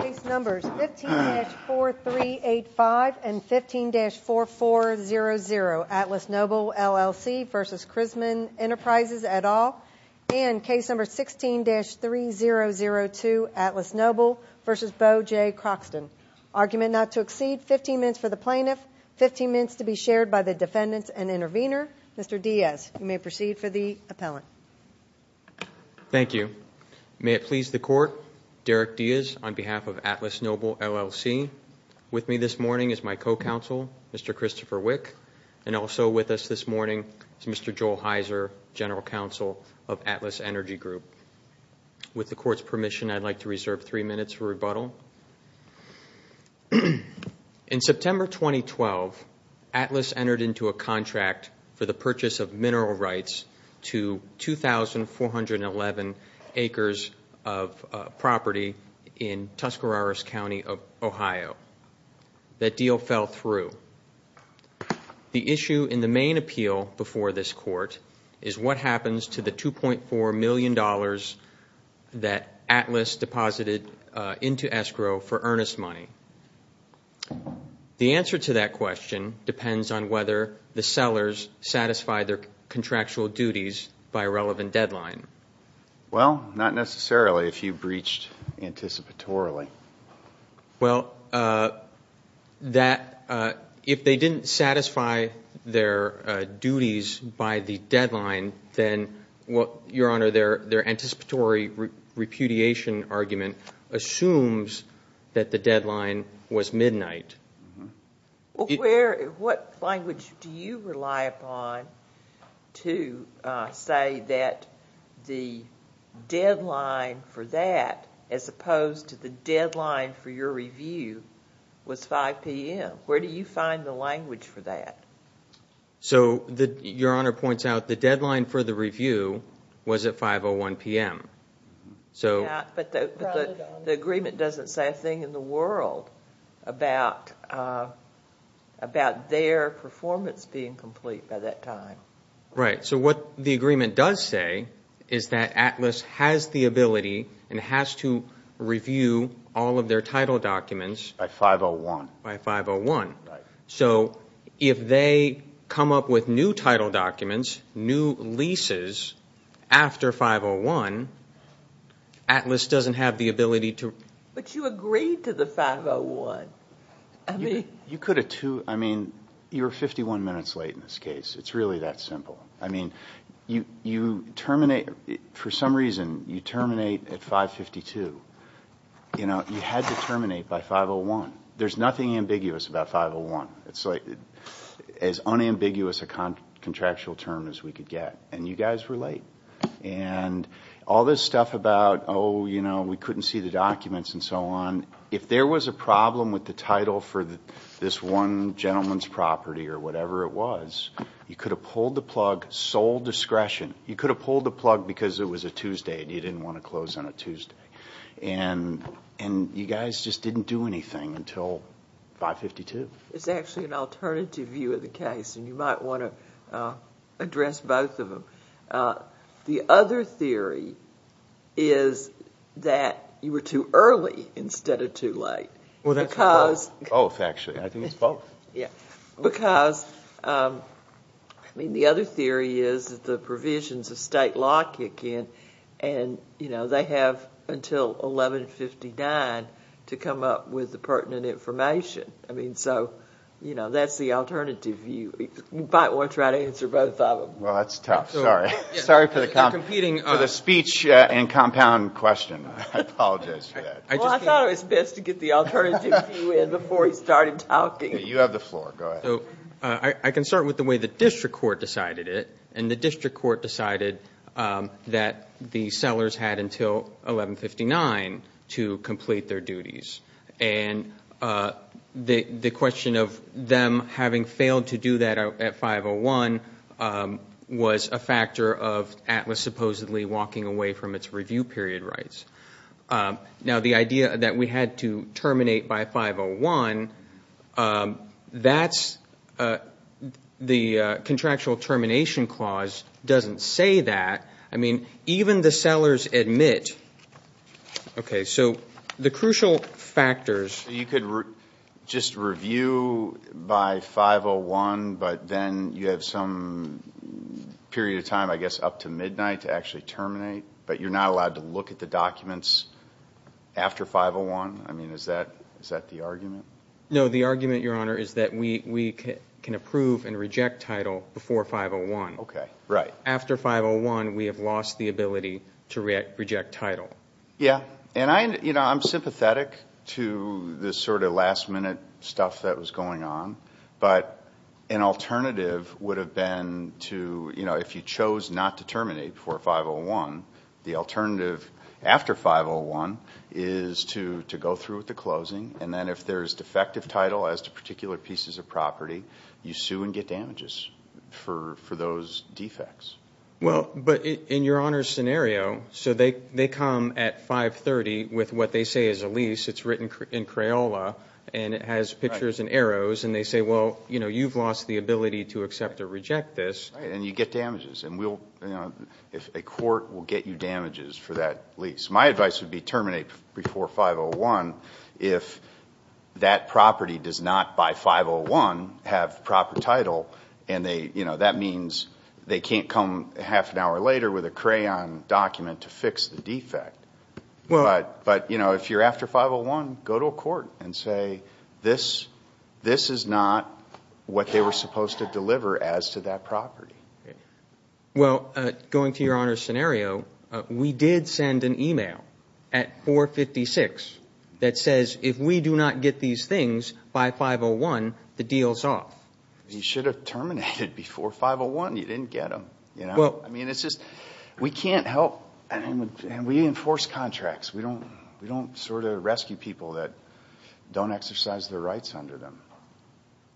Case numbers 15-4385 and 15-4400, Atlas Noble LLC v. Krizman Enterprises et al. And case number 16-3002, Atlas Noble v. Bo J. Croxton. Argument not to exceed 15 minutes for the plaintiff, 15 minutes to be shared by the defendants and intervener. Mr. Diaz, you may proceed for the appellant. Thank you. May it please the Court, Derek Diaz on behalf of Atlas Noble LLC. With me this morning is my co-counsel, Mr. Christopher Wick. And also with us this morning is Mr. Joel Heiser, General Counsel of Atlas Energy Group. With the Court's permission, I'd like to reserve three minutes for rebuttal. In September 2012, Atlas entered into a contract for the purchase of mineral rights to 2,411 acres of property in Tuscaroras County of Ohio. That deal fell through. The issue in the main appeal before this Court is what happens to the $2.4 million that Atlas deposited into escrow for earnest money. The answer to that question depends on whether the sellers satisfied their contractual duties by a relevant deadline. Well, not necessarily if you breached anticipatorily. Well, if they didn't satisfy their duties by the deadline, then, Your Honor, their anticipatory repudiation argument assumes that the deadline was midnight. What language do you rely upon to say that the deadline for that, as opposed to the deadline for your review, was 5 p.m.? Where do you find the language for that? Your Honor points out the deadline for the review was at 5.01 p.m. But the agreement doesn't say a thing in the world about their performance being complete by that time. Right. What the agreement does say is that Atlas has the ability and has to review all of their title documents. By 5.01. By 5.01. Right. So if they come up with new title documents, new leases, after 5.01, Atlas doesn't have the ability to... But you agreed to the 5.01. I mean... You could have, too... I mean, you were 51 minutes late in this case. It's really that simple. I mean, you terminate... For some reason, you terminate at 5.52. You know, you had to terminate by 5.01. There's nothing ambiguous about 5.01. It's like as unambiguous a contractual term as we could get. And you guys were late. And all this stuff about, oh, you know, we couldn't see the documents and so on. If there was a problem with the title for this one gentleman's property or whatever it was, you could have pulled the plug. Sole discretion. You could have pulled the plug because it was a Tuesday and you didn't want to close on a Tuesday. And you guys just didn't do anything until 5.52. It's actually an alternative view of the case, and you might want to address both of them. The other theory is that you were too early instead of too late. Well, that's both. Both, actually. I think it's both. Because, I mean, the other theory is that the provisions of state law kick in and, you know, they have until 11.59 to come up with the pertinent information. I mean, so, you know, that's the alternative view. You might want to try to answer both of them. Well, that's tough. Sorry. Sorry for the speech and compound question. I apologize for that. Well, I thought it was best to get the alternative view in before he started talking. You have the floor. Go ahead. I can start with the way the district court decided it. And the district court decided that the sellers had until 11.59 to complete their duties. And the question of them having failed to do that at 5.01 was a factor of Atlas supposedly walking away from its review period rights. Now, the idea that we had to terminate by 5.01, that's the contractual termination clause doesn't say that. I mean, even the sellers admit. Okay, so the crucial factors. You could just review by 5.01, but then you have some period of time, I guess, up to midnight to actually terminate. But you're not allowed to look at the documents after 5.01? I mean, is that the argument? No, the argument, Your Honor, is that we can approve and reject title before 5.01. Okay, right. After 5.01, we have lost the ability to reject title. Yeah. And, you know, I'm sympathetic to the sort of last-minute stuff that was going on. But an alternative would have been to, you know, if you chose not to terminate before 5.01, the alternative after 5.01 is to go through with the closing. And then if there's defective title as to particular pieces of property, you sue and get damages for those defects. Well, but in Your Honor's scenario, so they come at 5.30 with what they say is a lease. It's written in Crayola, and it has pictures and arrows, and they say, well, you know, you've lost the ability to accept or reject this. Right, and you get damages. And we'll, you know, a court will get you damages for that lease. My advice would be terminate before 5.01 if that property does not, by 5.01, have proper title. And, you know, that means they can't come half an hour later with a crayon document to fix the defect. But, you know, if you're after 5.01, go to a court and say this is not what they were supposed to deliver as to that property. Well, going to Your Honor's scenario, we did send an e-mail at 4.56 that says if we do not get these things by 5.01, the deal's off. You should have terminated before 5.01. You didn't get them. I mean, it's just we can't help and we enforce contracts. We don't sort of rescue people that don't exercise their rights under them.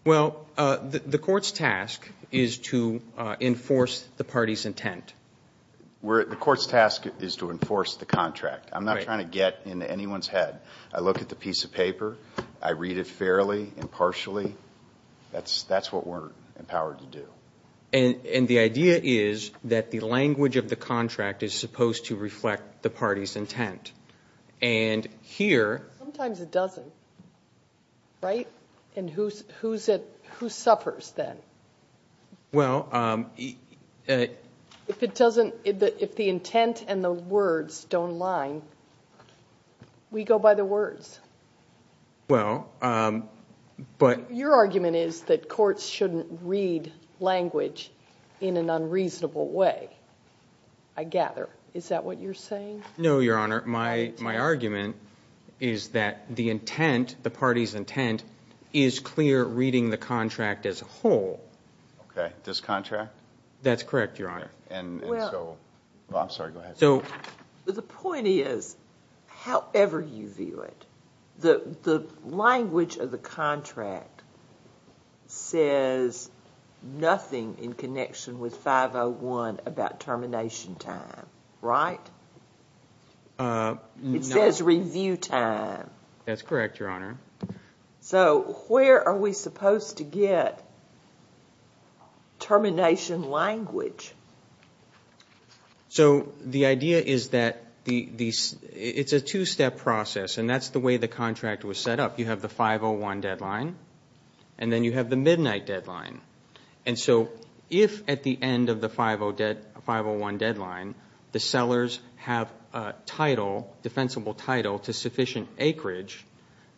Well, the court's task is to enforce the party's intent. The court's task is to enforce the contract. I'm not trying to get into anyone's head. I look at the piece of paper. I read it fairly and partially. That's what we're empowered to do. And the idea is that the language of the contract is supposed to reflect the party's intent. And here. Sometimes it doesn't. Right? And who suffers then? Well. If it doesn't, if the intent and the words don't line, we go by the words. Well, but. Your argument is that courts shouldn't read language in an unreasonable way, I gather. Is that what you're saying? No, Your Honor. My argument is that the intent, the party's intent, is clear reading the contract as a whole. Okay. This contract? That's correct, Your Honor. And so. I'm sorry. Go ahead. The point is, however you view it, the language of the contract says nothing in connection with 501 about termination time. Right? It says review time. That's correct, Your Honor. So where are we supposed to get termination language? So the idea is that it's a two-step process, and that's the way the contract was set up. You have the 501 deadline, and then you have the midnight deadline. And so if at the end of the 501 deadline the sellers have a title, defensible title, to sufficient acreage,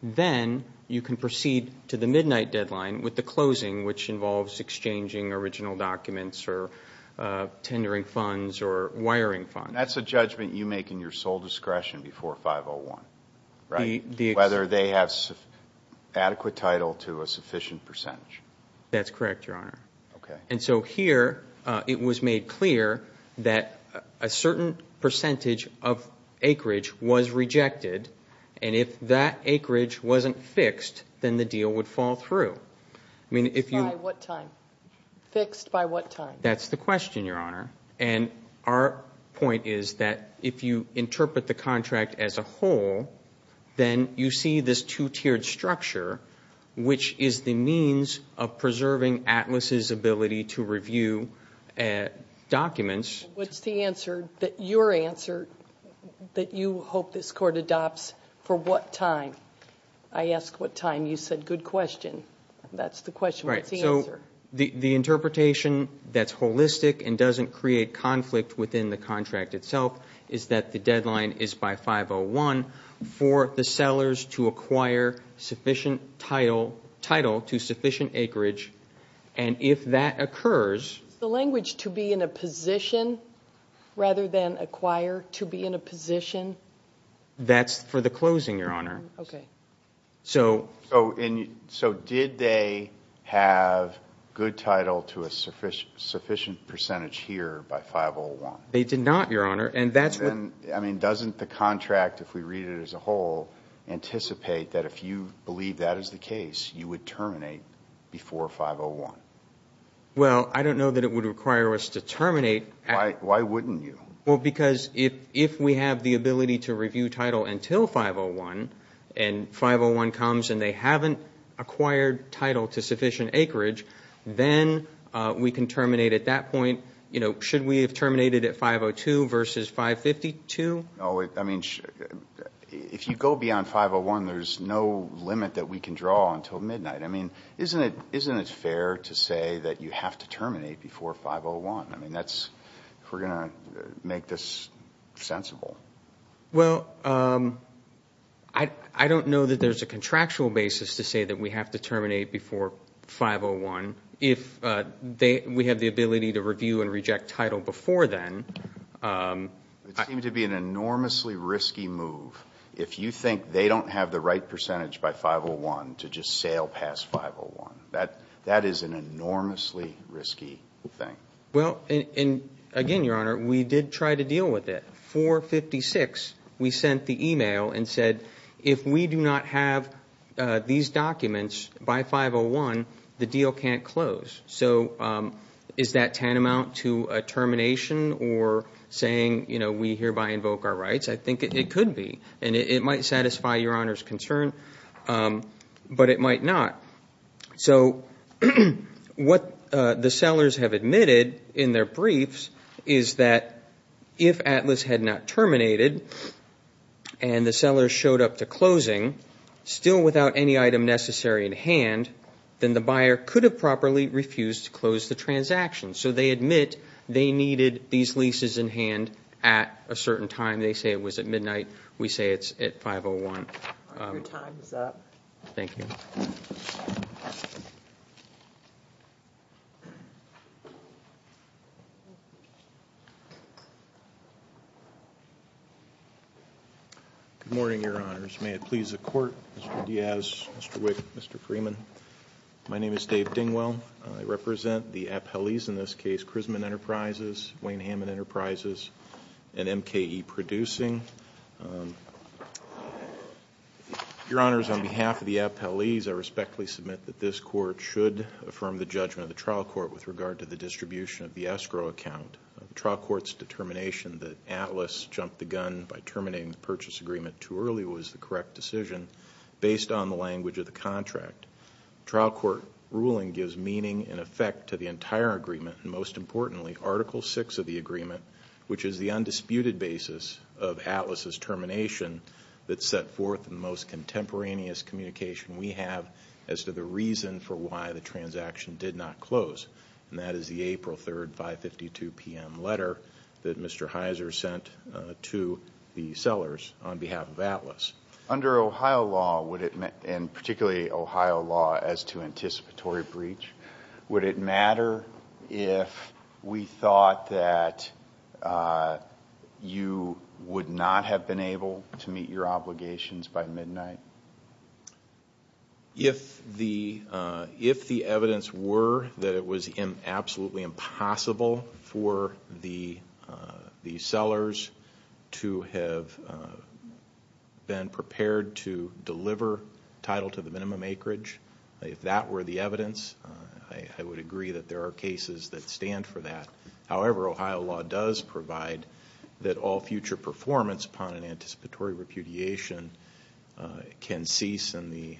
then you can proceed to the midnight deadline with the closing, which involves exchanging original documents or tendering funds or wiring funds. That's a judgment you make in your sole discretion before 501, right? Whether they have adequate title to a sufficient percentage. That's correct, Your Honor. Okay. And so here it was made clear that a certain percentage of acreage was rejected, and if that acreage wasn't fixed, then the deal would fall through. By what time? Fixed by what time? That's the question, Your Honor. And our point is that if you interpret the contract as a whole, then you see this two-tiered structure, which is the means of preserving ATLAS's ability to review documents. What's the answer, your answer, that you hope this Court adopts for what time? I ask what time. You said good question. What's the answer? The interpretation that's holistic and doesn't create conflict within the contract itself is that the deadline is by 501 for the sellers to acquire sufficient title to sufficient acreage. And if that occurs... Is the language to be in a position rather than acquire, to be in a position? That's for the closing, Your Honor. Okay. So did they have good title to a sufficient percentage here by 501? They did not, Your Honor, and that's what... I mean, doesn't the contract, if we read it as a whole, anticipate that if you believe that is the case, you would terminate before 501? Well, I don't know that it would require us to terminate... Why wouldn't you? Well, because if we have the ability to review title until 501, and 501 comes and they haven't acquired title to sufficient acreage, then we can terminate at that point. You know, should we have terminated at 502 versus 552? No, I mean, if you go beyond 501, there's no limit that we can draw until midnight. I mean, isn't it fair to say that you have to terminate before 501? I mean, that's... We're going to make this sensible. Well, I don't know that there's a contractual basis to say that we have to terminate before 501. If we have the ability to review and reject title before then... It seemed to be an enormously risky move. If you think they don't have the right percentage by 501 to just sail past 501, that is an enormously risky thing. Well, and again, Your Honor, we did try to deal with it. 456, we sent the email and said, if we do not have these documents by 501, the deal can't close. So is that tantamount to a termination or saying, you know, we hereby invoke our rights? I think it could be, and it might satisfy Your Honor's concern, but it might not. So what the sellers have admitted in their briefs is that if Atlas had not terminated and the seller showed up to closing still without any item necessary in hand, then the buyer could have properly refused to close the transaction. So they admit they needed these leases in hand at a certain time. They say it was at midnight. We say it's at 501. Your time is up. Thank you. Good morning, Your Honors. May it please the Court, Mr. Diaz, Mr. Wick, Mr. Freeman. My name is Dave Dingwell. I represent the appellees, in this case, Chrisman Enterprises, Wayne Hammond Enterprises, and MKE Producing. Your Honors, on behalf of the appellees, I respectfully submit that this Court should affirm the judgment of the trial court with regard to the distribution of the escrow account. The trial court's determination that Atlas jumped the gun by terminating the purchase agreement too early was the correct decision based on the language of the contract. Trial court ruling gives meaning and effect to the entire agreement, and most importantly, Article VI of the agreement, which is the undisputed basis of Atlas's termination that set forth the most contemporaneous communication we have as to the reason for why the transaction did not close, and that is the April 3, 552 p.m. letter that Mr. Heiser sent to the sellers on behalf of Atlas. Under Ohio law, and particularly Ohio law as to anticipatory breach, would it matter if we thought that you would not have been able to meet your obligations by midnight? If the evidence were that it was absolutely impossible for the sellers to have been prepared to deliver title to the minimum acreage, if that were the evidence, I would agree that there are cases that stand for that. However, Ohio law does provide that all future performance upon an anticipatory repudiation can cease and the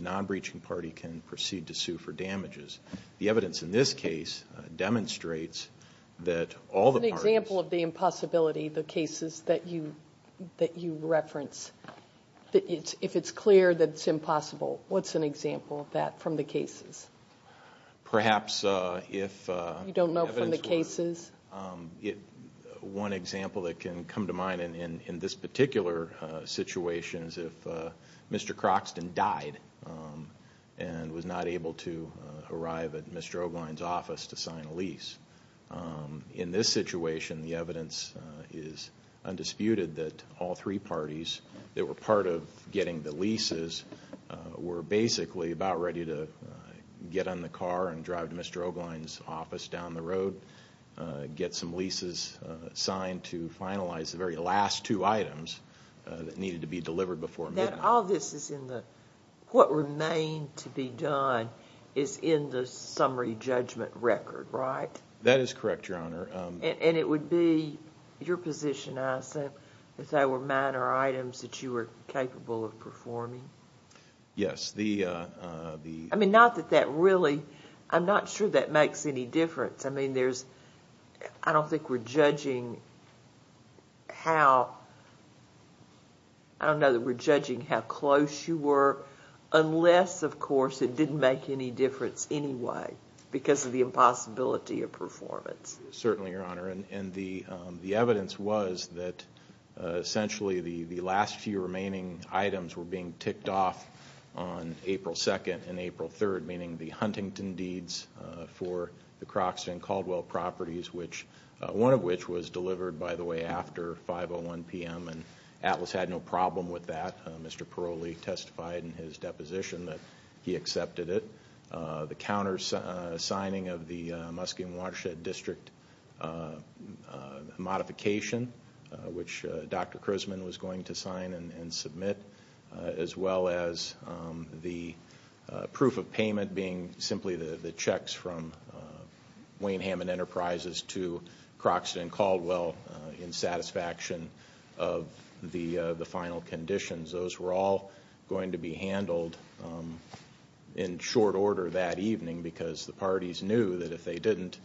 non-breaching party can proceed to sue for damages. The evidence in this case demonstrates that all the parties— What's an example of that from the cases? Perhaps if— You don't know from the cases? One example that can come to mind in this particular situation is if Mr. Croxton died and was not able to arrive at Mr. O'Brien's office to sign a lease. In this situation, the evidence is undisputed that all three parties that were part of getting the leases were basically about ready to get in the car and drive to Mr. O'Brien's office down the road, get some leases signed to finalize the very last two items that needed to be delivered before midnight. All this is in the—what remained to be done is in the summary judgment record, right? That is correct, Your Honor. And it would be your position, I assume, if there were minor items that you were capable of performing? Yes, the— I mean, not that that really—I'm not sure that makes any difference. I mean, there's—I don't think we're judging how—I don't know that we're judging how close you were unless, of course, it didn't make any difference anyway because of the impossibility of performance. Certainly, Your Honor. And the evidence was that essentially the last few remaining items were being ticked off on April 2nd and April 3rd, meaning the Huntington deeds for the Croxton-Caldwell properties, which—one of which was delivered, by the way, after 5.01 p.m. and Atlas had no problem with that. Mr. Peroli testified in his deposition that he accepted it. The countersigning of the Muskingum Watershed District modification, which Dr. Chrisman was going to sign and submit, as well as the proof of payment being simply the checks from Wainham and Enterprises to Croxton-Caldwell in satisfaction of the final conditions. Those were all going to be handled in short order that evening because the parties knew that if they didn't,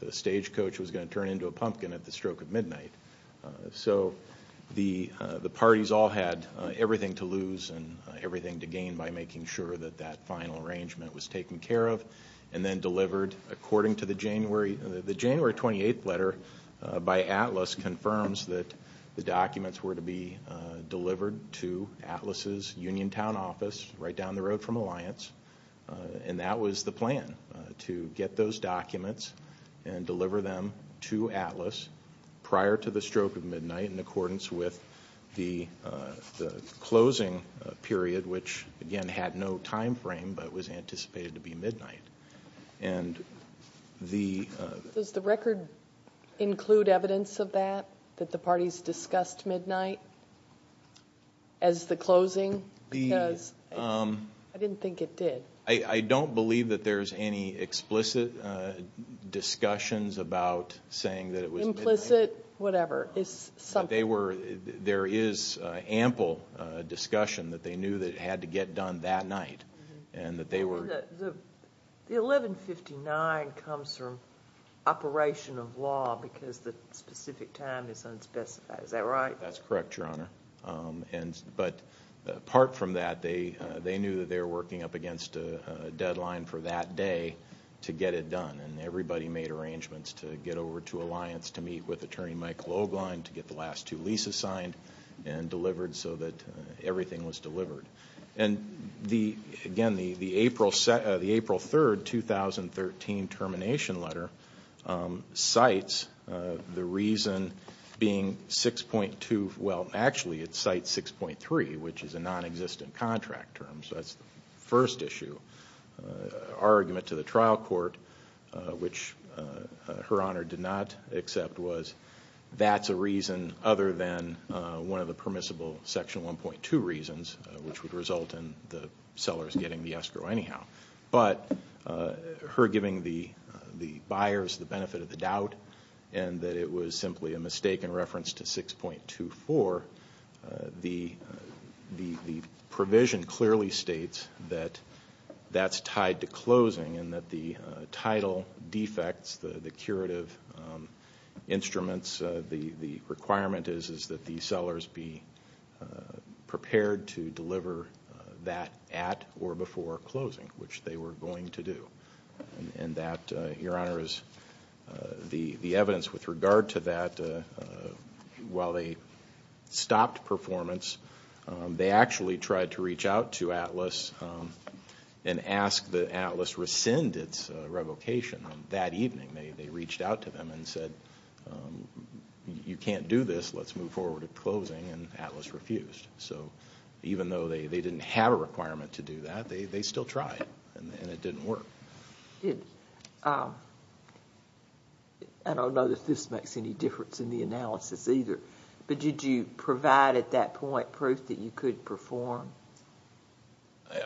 the stagecoach was going to turn into a pumpkin at the stroke of midnight. So the parties all had everything to lose and everything to gain by making sure that that final arrangement was taken care of and then delivered according to the January—the January 28th letter by Atlas confirms that the documents were to be delivered to Atlas' Uniontown office right down the road from Alliance, and that was the plan, to get those documents and deliver them to Atlas prior to the stroke of midnight in accordance with the closing period, which, again, had no time frame but was anticipated to be midnight. And the— Does the record include evidence of that, that the parties discussed midnight as the closing? Because I didn't think it did. I don't believe that there's any explicit discussions about saying that it was midnight. Implicit, whatever. There is ample discussion that they knew that it had to get done that night and that they were— The 1159 comes from operation of law because the specific time is unspecified. Is that right? That's correct, Your Honor. But apart from that, they knew that they were working up against a deadline for that day to get it done, and everybody made arrangements to get over to Alliance to meet with Attorney Mike Loeglein to get the last two leases signed and delivered so that everything was delivered. And, again, the April 3, 2013 termination letter cites the reason being 6.2— well, actually, it cites 6.3, which is a nonexistent contract term. So that's the first issue. Argument to the trial court, which Her Honor did not accept, was that's a reason other than one of the permissible Section 1.2 reasons, which would result in the sellers getting the escrow anyhow. But her giving the buyers the benefit of the doubt and that it was simply a mistake in reference to 6.24, the provision clearly states that that's tied to closing and that the title defects, the curative instruments, the requirement is that the sellers be prepared to deliver that at or before closing, which they were going to do. And that, Your Honor, is the evidence with regard to that. While they stopped performance, they actually tried to reach out to ATLAS and ask that ATLAS rescind its revocation that evening. They reached out to them and said, you can't do this, let's move forward with closing, and ATLAS refused. So even though they didn't have a requirement to do that, they still tried and it didn't work. I don't know that this makes any difference in the analysis either, but did you provide at that point proof that you could perform?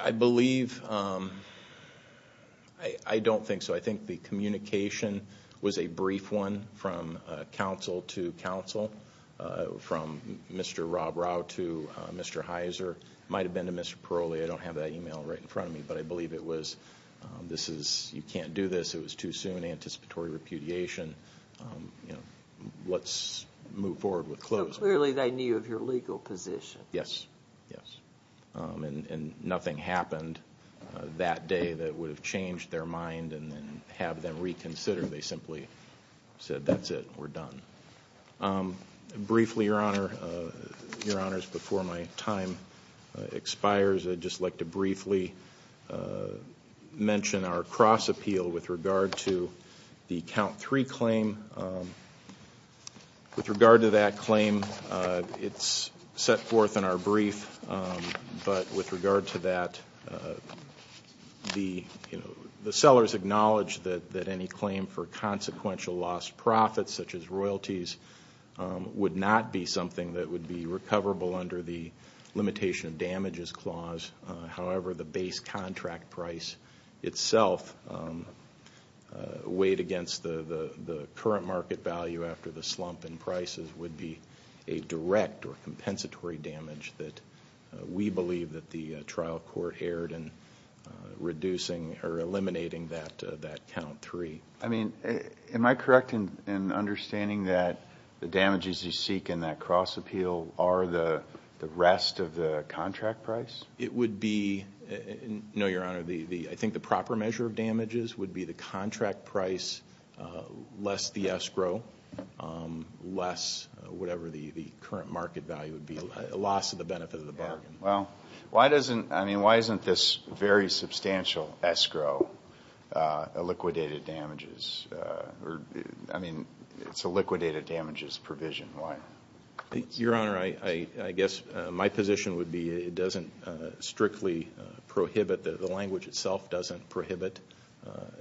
I believe, I don't think so. I think the communication was a brief one from counsel to counsel, from Mr. Rob Rao to Mr. Heiser. It might have been to Mr. Paroli, I don't have that email right in front of me, but I believe it was, you can't do this, it was too soon, anticipatory repudiation, let's move forward with closing. So clearly they knew of your legal position. Yes, yes. And nothing happened that day that would have changed their mind and have them reconsider. They simply said, that's it, we're done. Briefly, Your Honor, Your Honors, before my time expires, I'd just like to briefly mention our cross-appeal with regard to the count three claim. With regard to that claim, it's set forth in our brief, but with regard to that, the sellers acknowledged that any claim for consequential lost profits, such as royalties, would not be something that would be recoverable under the limitation of damages clause. However, the base contract price itself, weighed against the current market value after the slump in prices, would be a direct or compensatory damage that we believe that the trial court erred in reducing or eliminating that count three. I mean, am I correct in understanding that the damages you seek in that cross-appeal are the rest of the contract price? It would be, no, Your Honor, I think the proper measure of damages would be the contract price less the escrow, less whatever the current market value would be, a loss of the benefit of the bargain. Well, why doesn't, I mean, why isn't this very substantial escrow a liquidated damages, I mean, it's a liquidated damages provision. Why? Your Honor, I guess my position would be it doesn't strictly prohibit, the language itself doesn't prohibit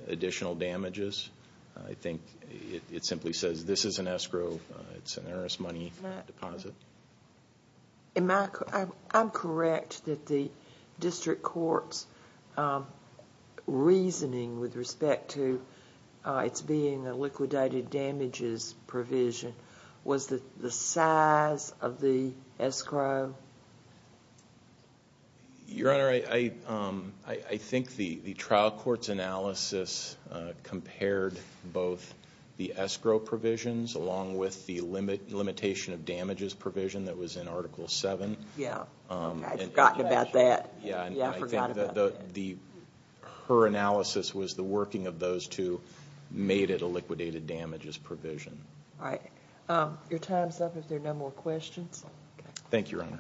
additional damages. I think it simply says this is an escrow. It's an heiress money deposit. Am I, I'm correct that the district court's reasoning with respect to its being a liquidated damages provision was the size of the escrow? Your Honor, I think the trial court's analysis compared both the escrow provisions along with the limitation of damages provision that was in Article 7. Yeah. I'd forgotten about that. Yeah. I forgot about that. Her analysis was the working of those two made it a liquidated damages provision. All right. Your time's up if there are no more questions. Thank you, Your Honors.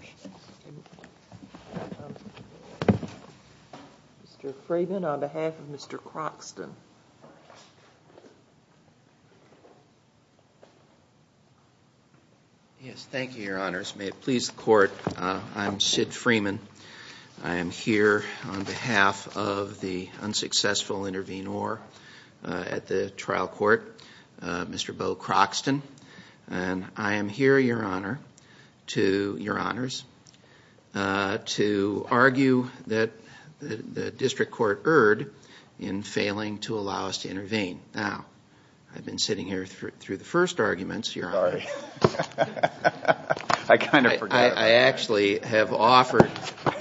Mr. Freeman, on behalf of Mr. Croxton. Yes, thank you, Your Honors. May it please the court, I'm Sid Freeman. I am here on behalf of the unsuccessful intervenor at the trial court, Mr. Bo Croxton. I am here, Your Honor, to argue that the district court erred in failing to allow us to intervene. Now, I've been sitting here through the first arguments, Your Honor. Sorry. I kind of forgot. I actually have offered,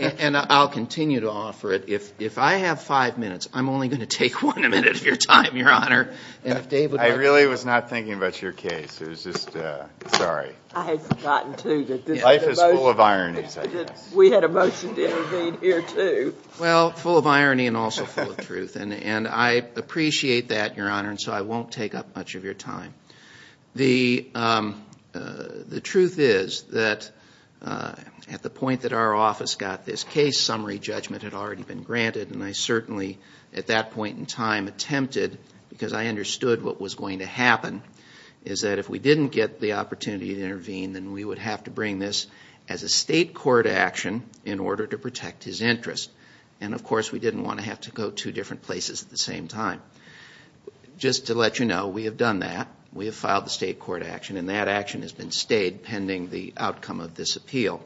and I'll continue to offer it. If I have five minutes, I'm only going to take one minute of your time, Your Honor. I really was not thinking about your case. It was just, sorry. I had forgotten, too. Life is full of ironies, I guess. We had a motion to intervene here, too. Well, full of irony and also full of truth. And I appreciate that, Your Honor, and so I won't take up much of your time. The truth is that at the point that our office got this case, summary judgment had already been granted. And I certainly, at that point in time, attempted, because I understood what was going to happen, is that if we didn't get the opportunity to intervene, then we would have to bring this as a state court action in order to protect his interest. And, of course, we didn't want to have to go two different places at the same time. Just to let you know, we have done that. We have filed the state court action, and that action has been stayed pending the outcome of this appeal.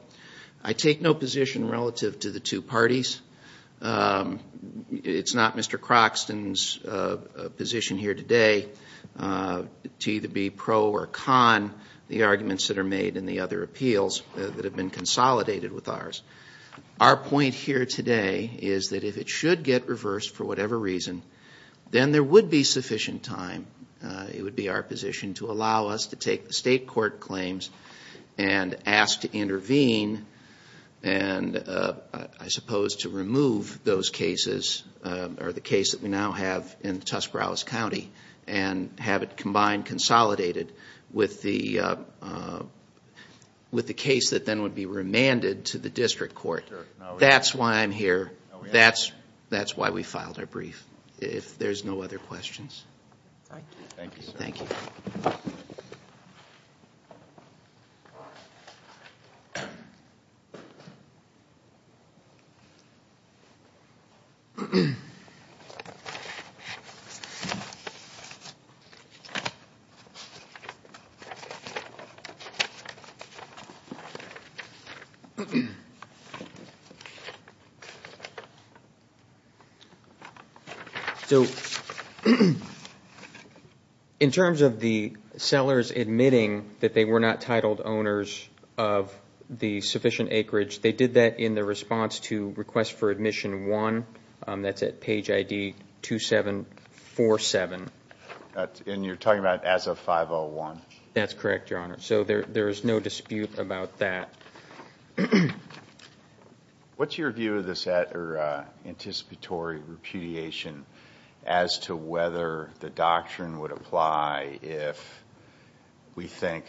I take no position relative to the two parties. It's not Mr. Croxton's position here today to either be pro or con the arguments that are made in the other appeals that have been consolidated with ours. Our point here today is that if it should get reversed, for whatever reason, then there would be sufficient time. It would be our position to allow us to take the state court claims and ask to intervene, and I suppose to remove those cases, or the case that we now have in Tuscarawas County, and have it combined, consolidated with the case that then would be That's why I'm here. That's why we filed our brief. If there's no other questions. Thank you. Thank you. Thank you. Thank you. In terms of the sellers admitting that they were not titled owners of the sufficient acreage, they did that in their response to request for admission one. That's at page ID 2747. And you're talking about as of 501? That's correct, Your Honor. So there is no dispute about that. What's your view of this anticipatory repudiation as to whether the doctrine would apply if we think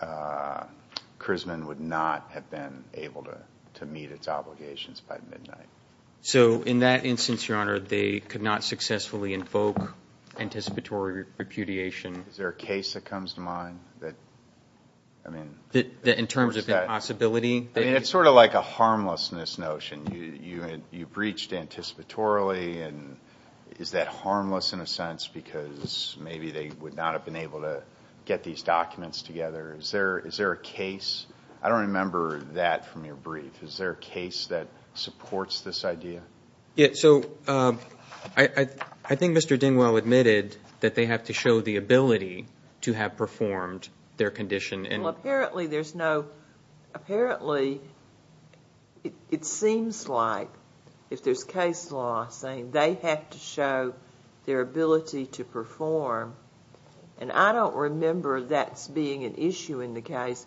Chrisman would not have been able to meet its obligations by midnight? So in that instance, Your Honor, they could not successfully invoke anticipatory repudiation. Is there a case that comes to mind? In terms of the possibility? It's sort of like a harmlessness notion. You breached anticipatorily, and is that harmless in a sense because maybe they would not have been able to get these documents together? Is there a case? I don't remember that from your brief. Is there a case that supports this idea? I think Mr. Dingwell admitted that they have to show the ability to have performed their condition. Apparently, it seems like if there's case law saying they have to show their ability to perform, and I don't remember that being an issue in the case.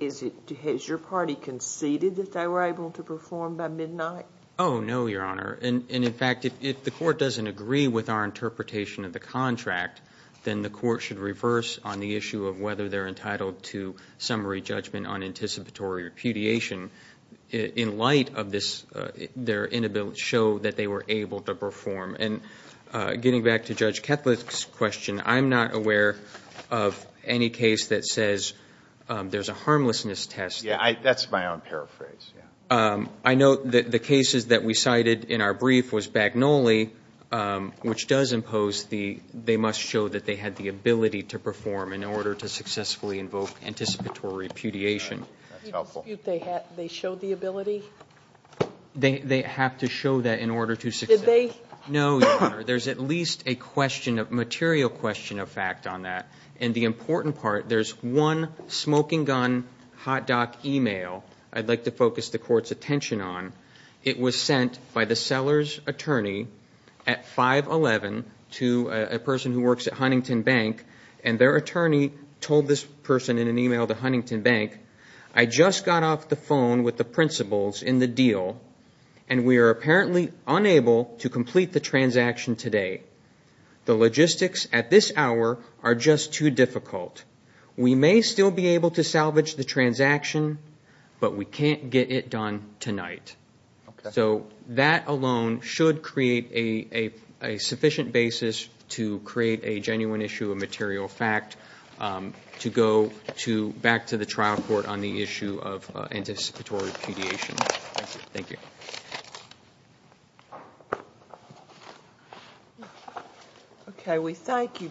Has your party conceded that they were able to perform by midnight? Oh, no, Your Honor. In fact, if the court doesn't agree with our interpretation of the contract, then the court should reverse on the issue of whether they're entitled to summary judgment on anticipatory repudiation in light of their inability to show that they were able to perform. Getting back to Judge Ketlik's question, I'm not aware of any case that says there's a harmlessness test. That's my own paraphrase. I note that the cases that we cited in our brief was Bagnoli, which does impose they must show that they had the ability to perform in order to successfully invoke anticipatory repudiation. That's helpful. Do you dispute they showed the ability? They have to show that in order to succeed. Did they? No, Your Honor. There's at least a material question of fact on that, and the important part, there's one smoking gun hot dock email. I'd like to focus the court's attention on. It was sent by the seller's attorney at 5-11 to a person who works at Huntington Bank, and their attorney told this person in an email to Huntington Bank, I just got off the phone with the principals in the deal, and we are apparently unable to complete the transaction today. The logistics at this hour are just too difficult. We may still be able to salvage the transaction, but we can't get it done tonight. So that alone should create a sufficient basis to create a genuine issue of material fact to go back to the trial court on the issue of anticipatory repudiation. Thank you. Thank you.